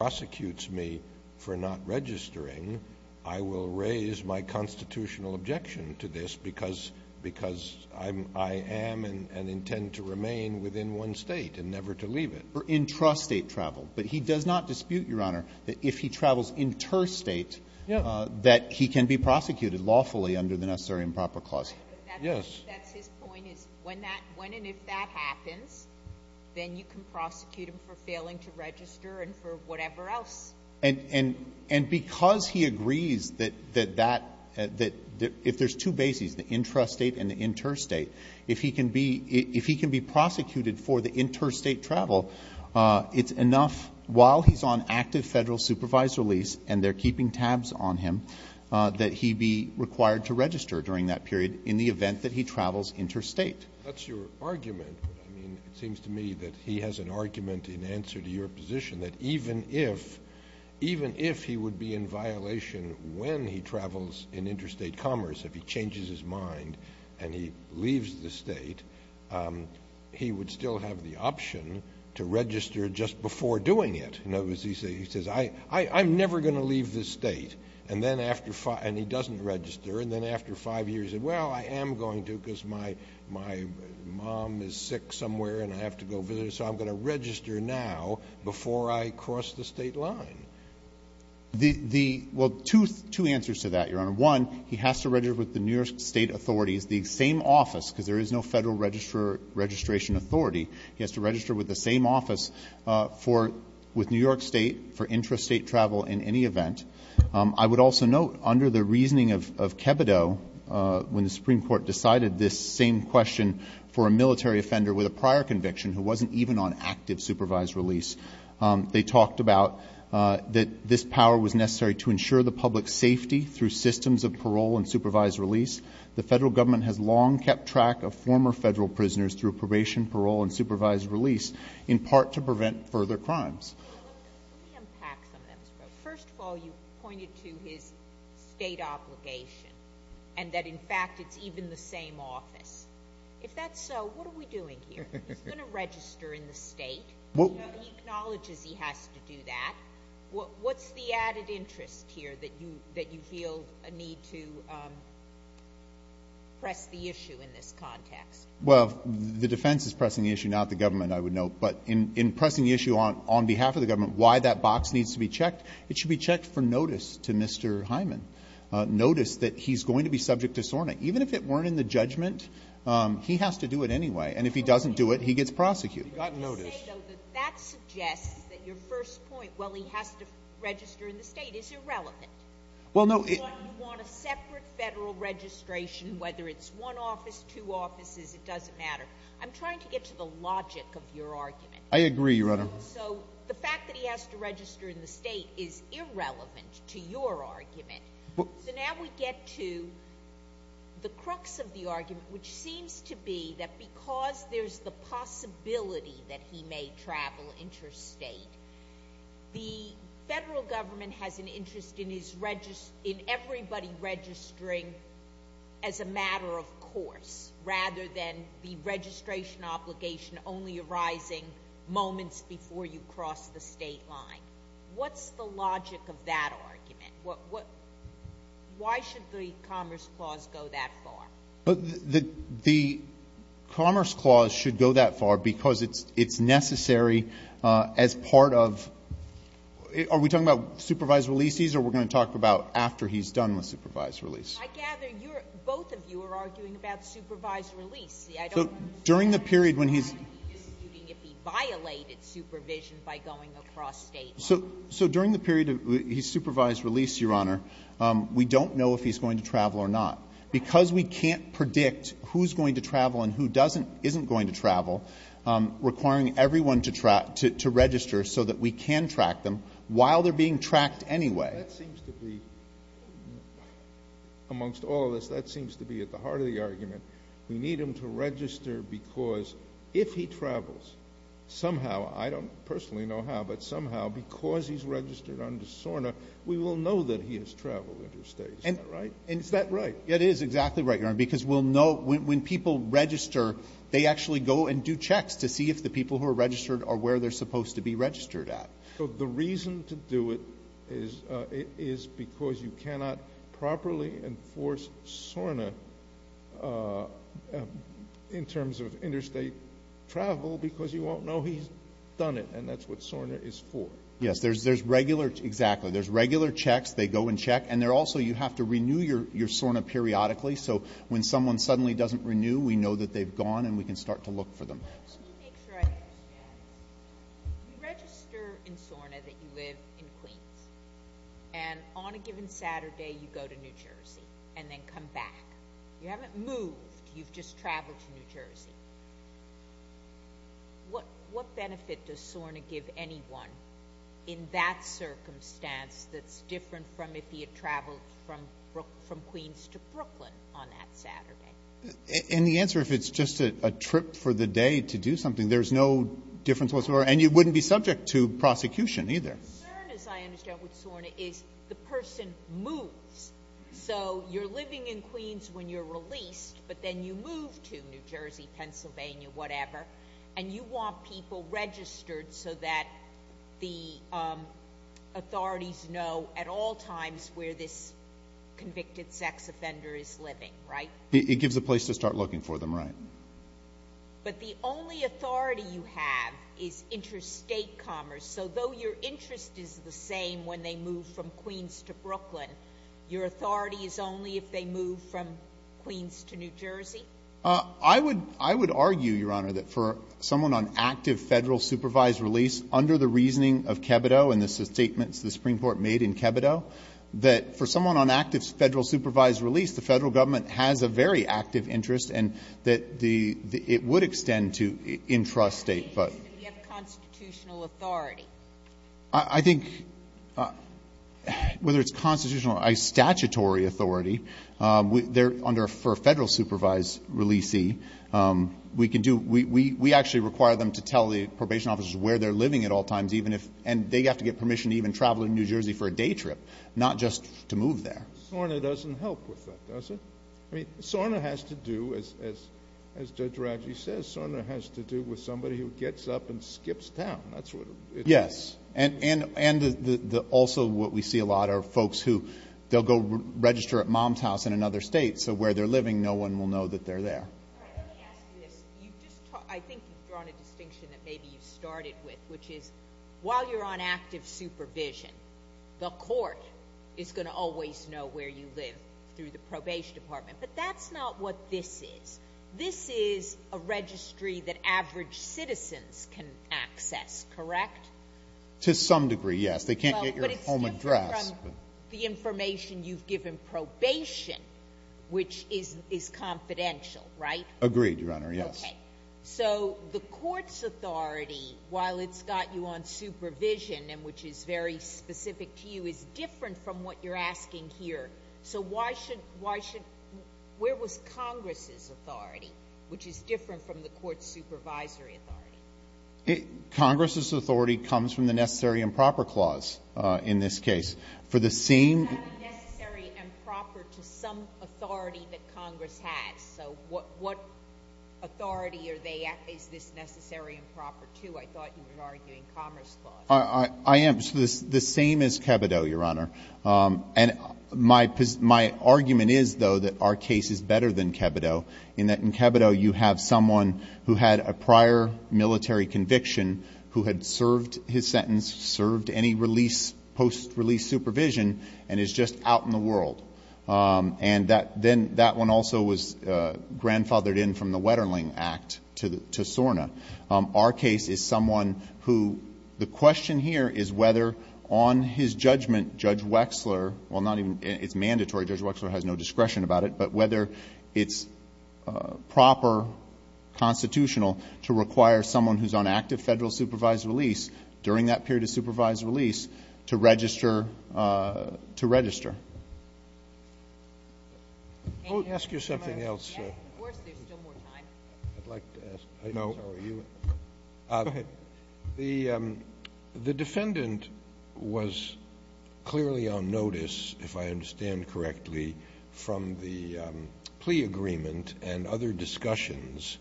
prosecutes me for not registering, I will raise my constitutional objection to this because I am and intend to remain within one state and never to leave it. For intrastate travel, but he does not dispute, Your Honor, that if he travels interstate that he can be prosecuted lawfully under the Necessary and Proper Clause. Yes. That's his point, is when and if that happens, then you can prosecute him for failing to And because he agrees that if there's two bases, the intrastate and the interstate, if he can be prosecuted for the interstate travel, it's enough while he's on active Federal supervisor lease and they're keeping tabs on him, that he be required to register during that period in the event that he travels interstate. That's your argument, but I mean, it seems to me that he has an argument in answer to your position that even if he would be in violation when he travels in interstate commerce, if he changes his mind and he leaves the state, he would still have the option to register just before doing it. In other words, he says, I'm never going to leave this state. And then after five, and he doesn't register. And then after five years, he said, well, I am going to because my mom is sick somewhere and I have to go visit her, so I'm going to register now before I cross the state line. The, the, well, two, two answers to that, Your Honor. One, he has to register with the New York state authorities, the same office, because there is no Federal registrar, registration authority, he has to register with the same office for, with New York state for intrastate travel in any event. I would also note under the reasoning of, of Kebido, when the Supreme Court decided this same question for a military offender with a prior conviction who wasn't even on active supervised release, they talked about that this power was necessary to ensure the public's safety through systems of parole and supervised release. The Federal Government has long kept track of former Federal prisoners through probation, parole, and supervised release, in part to prevent further crimes. First of all, you pointed to his state obligation and that, in fact, it's even the same office. If that's so, what are we doing here? He's going to register in the state. Well. He acknowledges he has to do that. What, what's the added interest here that you, that you feel a need to press the issue in this context? Well, the defense is pressing the issue, not the government, I would note. But in, in pressing the issue on, on behalf of the government, why that box needs to be checked, it should be checked for notice to Mr. Hyman. Notice that he's going to be subject to SORNA. Even if it weren't in the judgment, he has to do it anyway, and if he doesn't do it, he gets prosecuted. You've gotten notice. Let me just say, though, that that suggests that your first point, well, he has to register in the state, is irrelevant. Well, no. You want, you want a separate Federal registration, whether it's one office, two offices, it doesn't matter. I'm trying to get to the logic of your argument. I agree, Your Honor. So, the fact that he has to register in the state is irrelevant to your argument. So, now we get to the crux of the argument, which seems to be that because there's the possibility that he may travel interstate, the Federal government has an interest in his, in everybody registering as a matter of course, rather than the registration obligation only arising moments before you cross the state line. What's the logic of that argument? What, what, why should the Commerce Clause go that far? The, the Commerce Clause should go that far because it's, it's necessary as part of, are we talking about supervised releasees, or are we going to talk about after he's done with supervised release? I gather you're, both of you are arguing about supervised release. See, I don't. So, during the period when he's. So, during the period of his supervised release, Your Honor, we don't know if he's going to travel or not because we can't predict who's going to travel and who doesn't, isn't going to travel, requiring everyone to track, to register so that we can track them while they're being tracked anyway. That seems to be, amongst all of us, that seems to be at the heart of the argument. We need him to register because if he travels, somehow, I don't personally know how, but somehow, because he's registered under SORNA, we will know that he has traveled interstate, is that right? Is that right? It is exactly right, Your Honor, because we'll know, when, when people register, they actually go and do checks to see if the people who are registered are where they're supposed to be registered at. So, the reason to do it is, is because you cannot properly enforce SORNA in terms of interstate travel because you won't know he's done it, and that's what SORNA is for. Yes, there's, there's regular, exactly, there's regular checks, they go and check, and they're also, you have to renew your, your SORNA periodically, so when someone suddenly doesn't renew, we know that they've gone and we can start to look for them. Let me make sure I understand. You register in SORNA that you live in Queens, and on a given Saturday, you go to New Jersey and then come back. You haven't moved, you've just traveled to New Jersey. What, what benefit does SORNA give anyone in that circumstance that's different from if he had traveled from, from Queens to Brooklyn on that Saturday? And the answer, if it's just a trip for the day to do something, there's no difference whatsoever, and you wouldn't be subject to prosecution either. The concern, as I understand with SORNA, is the person moves, so you're living in Queens when you're released, but then you move to New Jersey, Pennsylvania, whatever, and you want people registered so that the authorities know at all times where this convicted sex offender is living, right? It gives a place to start looking for them, right. But the only authority you have is interstate commerce, so though your interest is the same when they move from Queens to Brooklyn, your authority is only if they move from Queens to New Jersey? I would, I would argue, Your Honor, that for someone on active Federal supervised release, under the reasoning of Kebido and the statements the Supreme Court made in Kebido, that for someone on active Federal supervised release, the Federal government has a very active interest, and that the, it would extend to intrastate, but. Do you have constitutional authority? I think, whether it's constitutional or statutory authority, they're under, for a Federal supervised releasee, we can do, we actually require them to tell the probation officers where they're living at all times, even if, and they have to get permission to even travel to New Jersey for a day trip, not just to move there. SORNA doesn't help with that, does it? SORNA has to do, as Judge Raggi says, SORNA has to do with somebody who gets up and skips town, that's what it is. Yes, and also what we see a lot are folks who, they'll go register at mom's house in another state, so where they're living, no one will know that they're there. All right, let me ask you this. You've just, I think you've drawn a distinction that maybe you started with, which is, while you're on active supervision, the court is going to always know where you live through the probation department, but that's not what this is. This is a registry that average citizens can access, correct? To some degree, yes. They can't get your home address. Well, but it's different from the information you've given probation, which is confidential, right? Agreed, Your Honor, yes. Okay, so the court's authority, while it's got you on supervision, and which is very Why should, where was Congress's authority, which is different from the court's supervisory authority? Congress's authority comes from the necessary and proper clause in this case. For the same Is that necessary and proper to some authority that Congress has? So what authority is this necessary and proper to? I thought you were arguing commerce clause. I am. The same as Kebido, Your Honor. And my argument is, though, that our case is better than Kebido, in that in Kebido, you have someone who had a prior military conviction, who had served his sentence, served any post-release supervision, and is just out in the world. And then that one also was grandfathered in from the Wetterling Act to SORNA. Our case is someone who, the question here is whether, on his judgment, Judge Wexler, well, not even, it's mandatory, Judge Wexler has no discretion about it, but whether it's proper constitutional to require someone who's on active federal supervised release during that period of supervised release to register, to register. May I ask you something else? Yes, of course. There's still more time. I'd like to ask, how are you? Go ahead. The defendant was clearly on notice, if I understand correctly, from the plea agreement and other discussions.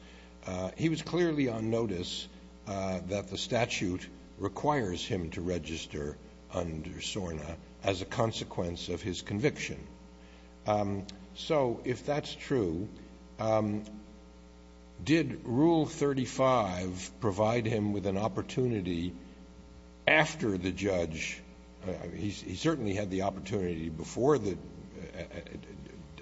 He was clearly on notice that the statute requires him to register under SORNA as a consequence of his conviction. So, if that's true, did Rule 35 provide him with an opportunity after the judge, he certainly had the opportunity before the,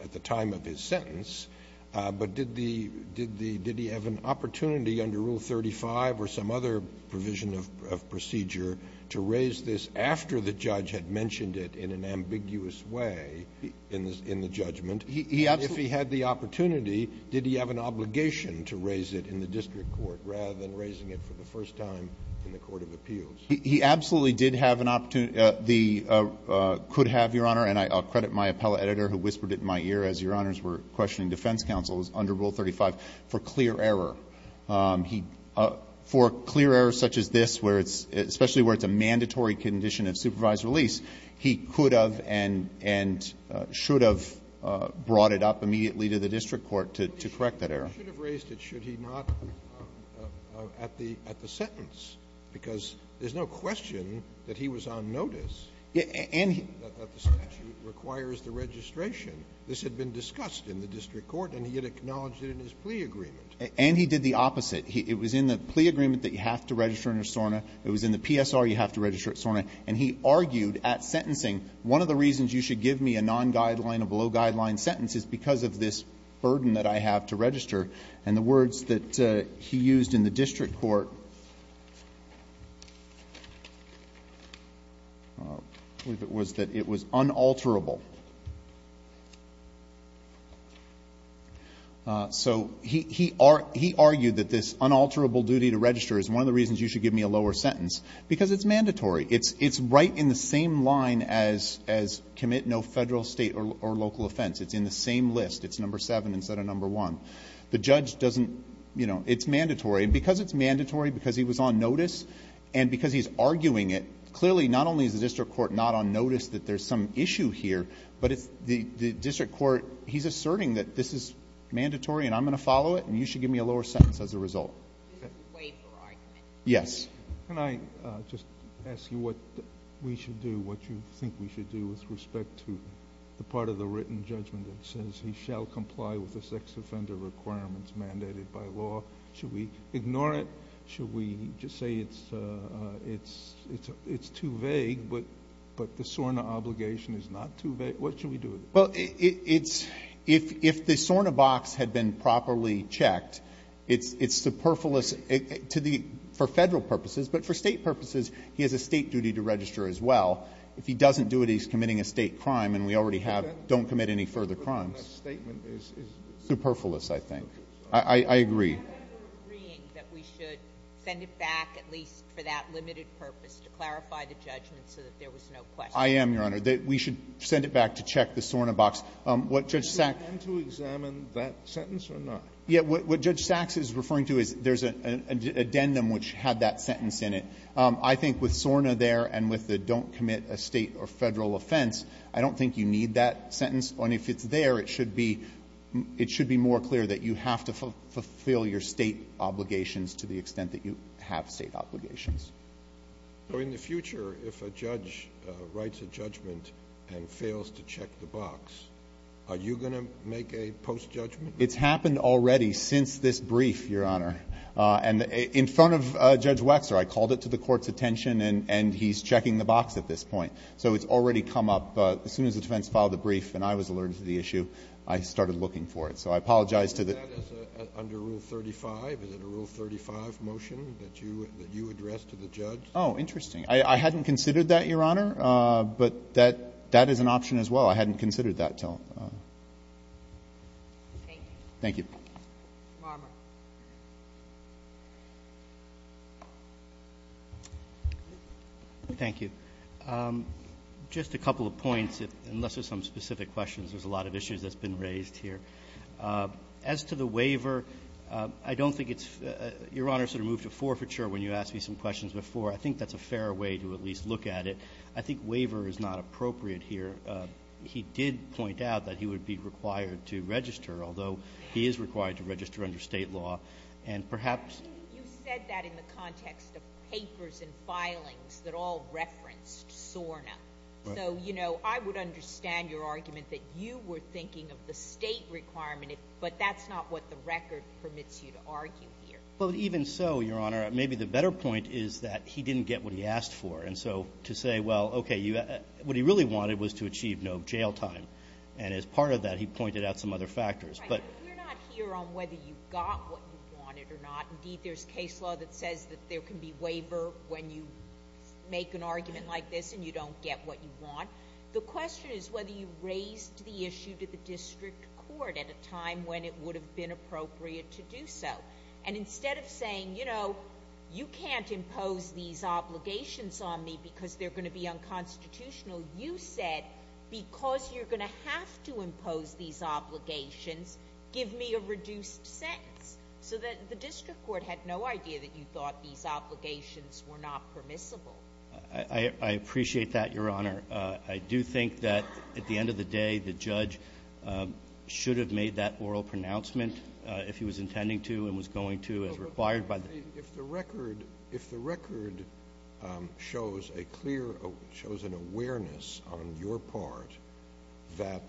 at the time of his sentence, but did he have an opportunity under Rule 35 or some other provision of procedure to raise this after the judge had mentioned it in an ambiguous way in the judgment? And if he had the opportunity, did he have an obligation to raise it in the district court rather than raising it for the first time in the court of appeals? He absolutely did have an opportunity, could have, Your Honor, and I'll credit my appellate editor who whispered it in my ear as Your Honors were questioning defense counsels under Rule 35, for clear error. He, for clear errors such as this, where it's, especially where it's a mandatory condition of supervised release, he could have and should have brought it up immediately to the district court to correct that error. Scalia, you should have raised it, should he not, at the sentence, because there's no question that he was on notice that the statute requires the registration. This had been discussed in the district court and he had acknowledged it in his plea agreement. And he did the opposite. It was in the plea agreement that you have to register under SORNA. It was in the PSR you have to register at SORNA. And he argued at sentencing, one of the reasons you should give me a non-guideline or below-guideline sentence is because of this burden that I have to register. And the words that he used in the district court was that it was unalterable. So he argued that this unalterable duty to register is one of the reasons you should give me a lower sentence, because it's mandatory. It's right in the same line as commit no federal, state, or local offense. It's in the same list. It's number seven instead of number one. The judge doesn't, you know, it's mandatory. And because it's mandatory, because he was on notice, and because he's arguing it, clearly not only is the district court not on notice that there's some issue here, but it's the district court, he's asserting that this is mandatory and I'm going to follow it and you should give me a lower sentence as a result. This is a waiver argument. Yes. Can I just ask you what we should do, what you think we should do with respect to the part of the written judgment that says he shall comply with the sex offender requirements mandated by law? Should we ignore it? Should we just say it's too vague, but the SORNA obligation is not too vague? What should we do with it? Well, if the SORNA box had been properly checked, it's superfluous for federal purposes, but for state purposes, he has a state duty to register as well. If he doesn't do it, he's committing a state crime. And we already have don't commit any further crimes. That statement is superfluous, I think. I agree. Are you agreeing that we should send it back, at least for that limited purpose, I am, Your Honor. We should send it back to check the SORNA box. What Judge Sachs Would you intend to examine that sentence or not? Yeah. What Judge Sachs is referring to is there's an addendum which had that sentence in it. I think with SORNA there and with the don't commit a state or federal offense, I don't think you need that sentence. And if it's there, it should be more clear that you have to fulfill your state obligations to the extent that you have state obligations. So in the future, if a judge writes a judgment and fails to check the box, are you going to make a post-judgment? It's happened already since this brief, Your Honor. And in front of Judge Wexler, I called it to the court's attention and he's checking the box at this point. So it's already come up. As soon as the defense filed the brief and I was alerted to the issue, I started looking for it. So I apologize to the Is that under Rule 35? Is it a Rule 35 motion that you addressed to the judge? Oh, interesting. I hadn't considered that, Your Honor. But that is an option as well. I hadn't considered that till. Thank you. Marmor. Thank you. Just a couple of points, unless there's some specific questions. There's a lot of issues that's been raised here. As to the waiver, I don't think it's, Your Honor sort of moved to forfeiture when you asked me some questions before. I think that's a fair way to at least look at it. I think waiver is not appropriate here. He did point out that he would be required to register, although he is required to register under state law. And perhaps. You said that in the context of papers and filings that all referenced SORNA. So, you know, I would understand your argument that you were thinking of the state requirement, but that's not what the record permits you to argue here. But even so, Your Honor, maybe the better point is that he didn't get what he asked for. And so, to say, well, okay, what he really wanted was to achieve no jail time. And as part of that, he pointed out some other factors. Right, but we're not here on whether you got what you wanted or not. Indeed, there's case law that says that there can be waiver when you make an argument like this and you don't get what you want. The question is whether you raised the issue to the district court at a time when it would have been appropriate to do so. And instead of saying, you know, you can't impose these obligations on me because they're going to be unconstitutional. You said, because you're going to have to impose these obligations, give me a reduced sentence. So that the district court had no idea that you thought these obligations were not permissible. I appreciate that, Your Honor. I do think that at the end of the day, the judge should have made that oral pronouncement if he was intending to and was going to as required by the- If the record shows a clear, shows an awareness on your part that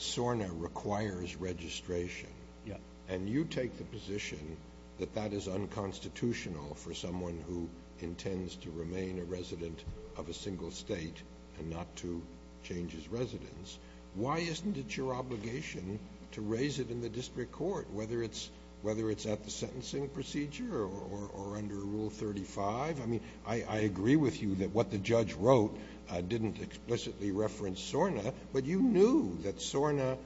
SORNA requires registration. Yeah. And you take the position that that is unconstitutional for someone who intends to remain a resident of a single state and not to change his residence. Why isn't it your obligation to raise it in the district court, whether it's at the sentencing procedure or under Rule 35? I mean, I agree with you that what the judge wrote didn't explicitly reference SORNA, but you knew that SORNA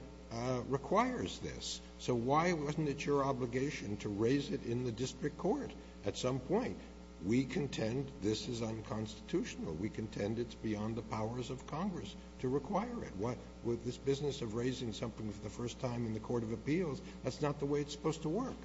requires this. So why wasn't it your obligation to raise it in the district court at some point? We contend this is unconstitutional. We contend it's beyond the powers of Congress to require it. With this business of raising something for the first time in the court of appeals, that's not the way it's supposed to work.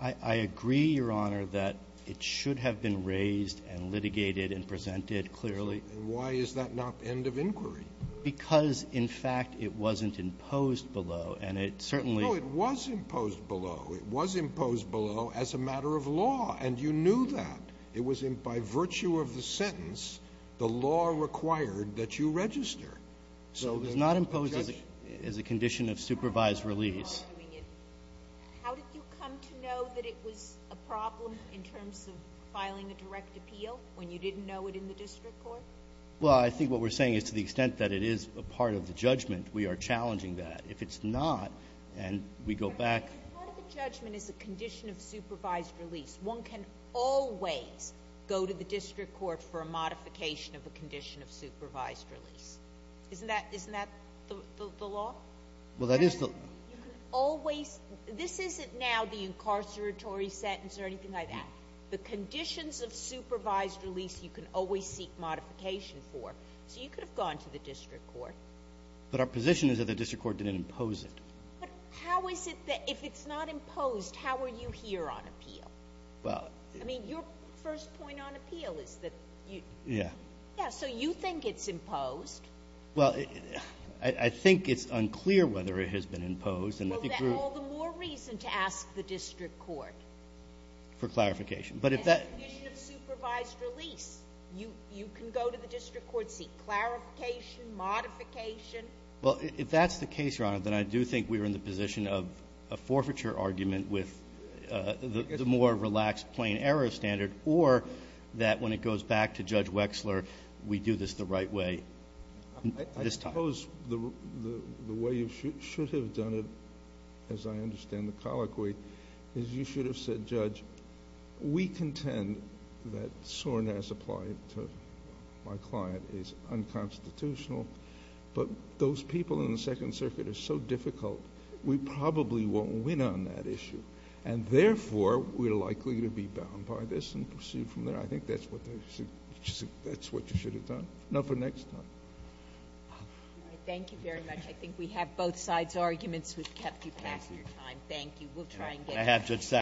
I agree, Your Honor, that it should have been raised and litigated and presented clearly. Why is that not end of inquiry? Because, in fact, it wasn't imposed below, and it certainly — No, it was imposed below. It was imposed below as a matter of law, and you knew that. It was in — by virtue of the sentence, the law required that you register. So the judge — It was not imposed as a condition of supervised release. How did you come to know that it was a problem in terms of filing a direct appeal when you didn't know it in the district court? Well, I think what we're saying is to the extent that it is a part of the judgment, we are challenging that. If it's not, and we go back — If a part of the judgment is a condition of supervised release, one can always go to the district court for a modification of a condition of supervised release. Isn't that — isn't that the law? Well, that is the — You can always — this isn't now the incarceratory sentence or anything like that. The conditions of supervised release you can always seek modification for. So you could have gone to the district court. But our position is that the district court didn't impose it. But how is it that if it's not imposed, how are you here on appeal? Well — I mean, your first point on appeal is that you — Yeah. Yeah. So you think it's imposed. Well, I think it's unclear whether it has been imposed, and I think we're — Well, then all the more reason to ask the district court. For clarification. But if that — And the condition of supervised release, you can go to the district court, seek clarification, modification. Well, if that's the case, Your Honor, then I do think we're in the position of a forfeiture argument with the more relaxed plain error standard, or that when it goes back to Judge Wexler, we do this the right way this time. I suppose the way you should have done it, as I understand the colloquy, is you should have said, Judge, we contend that soreness applied to my client is unconstitutional, but those people in the Second Circuit are so difficult, we probably won't win on that issue. And therefore, we're likely to be bound by this and proceed from there. I think that's what you should have done. No for next time. Thank you very much. I think we have both sides' arguments. We've kept you past your time. Thank you. We'll try and get —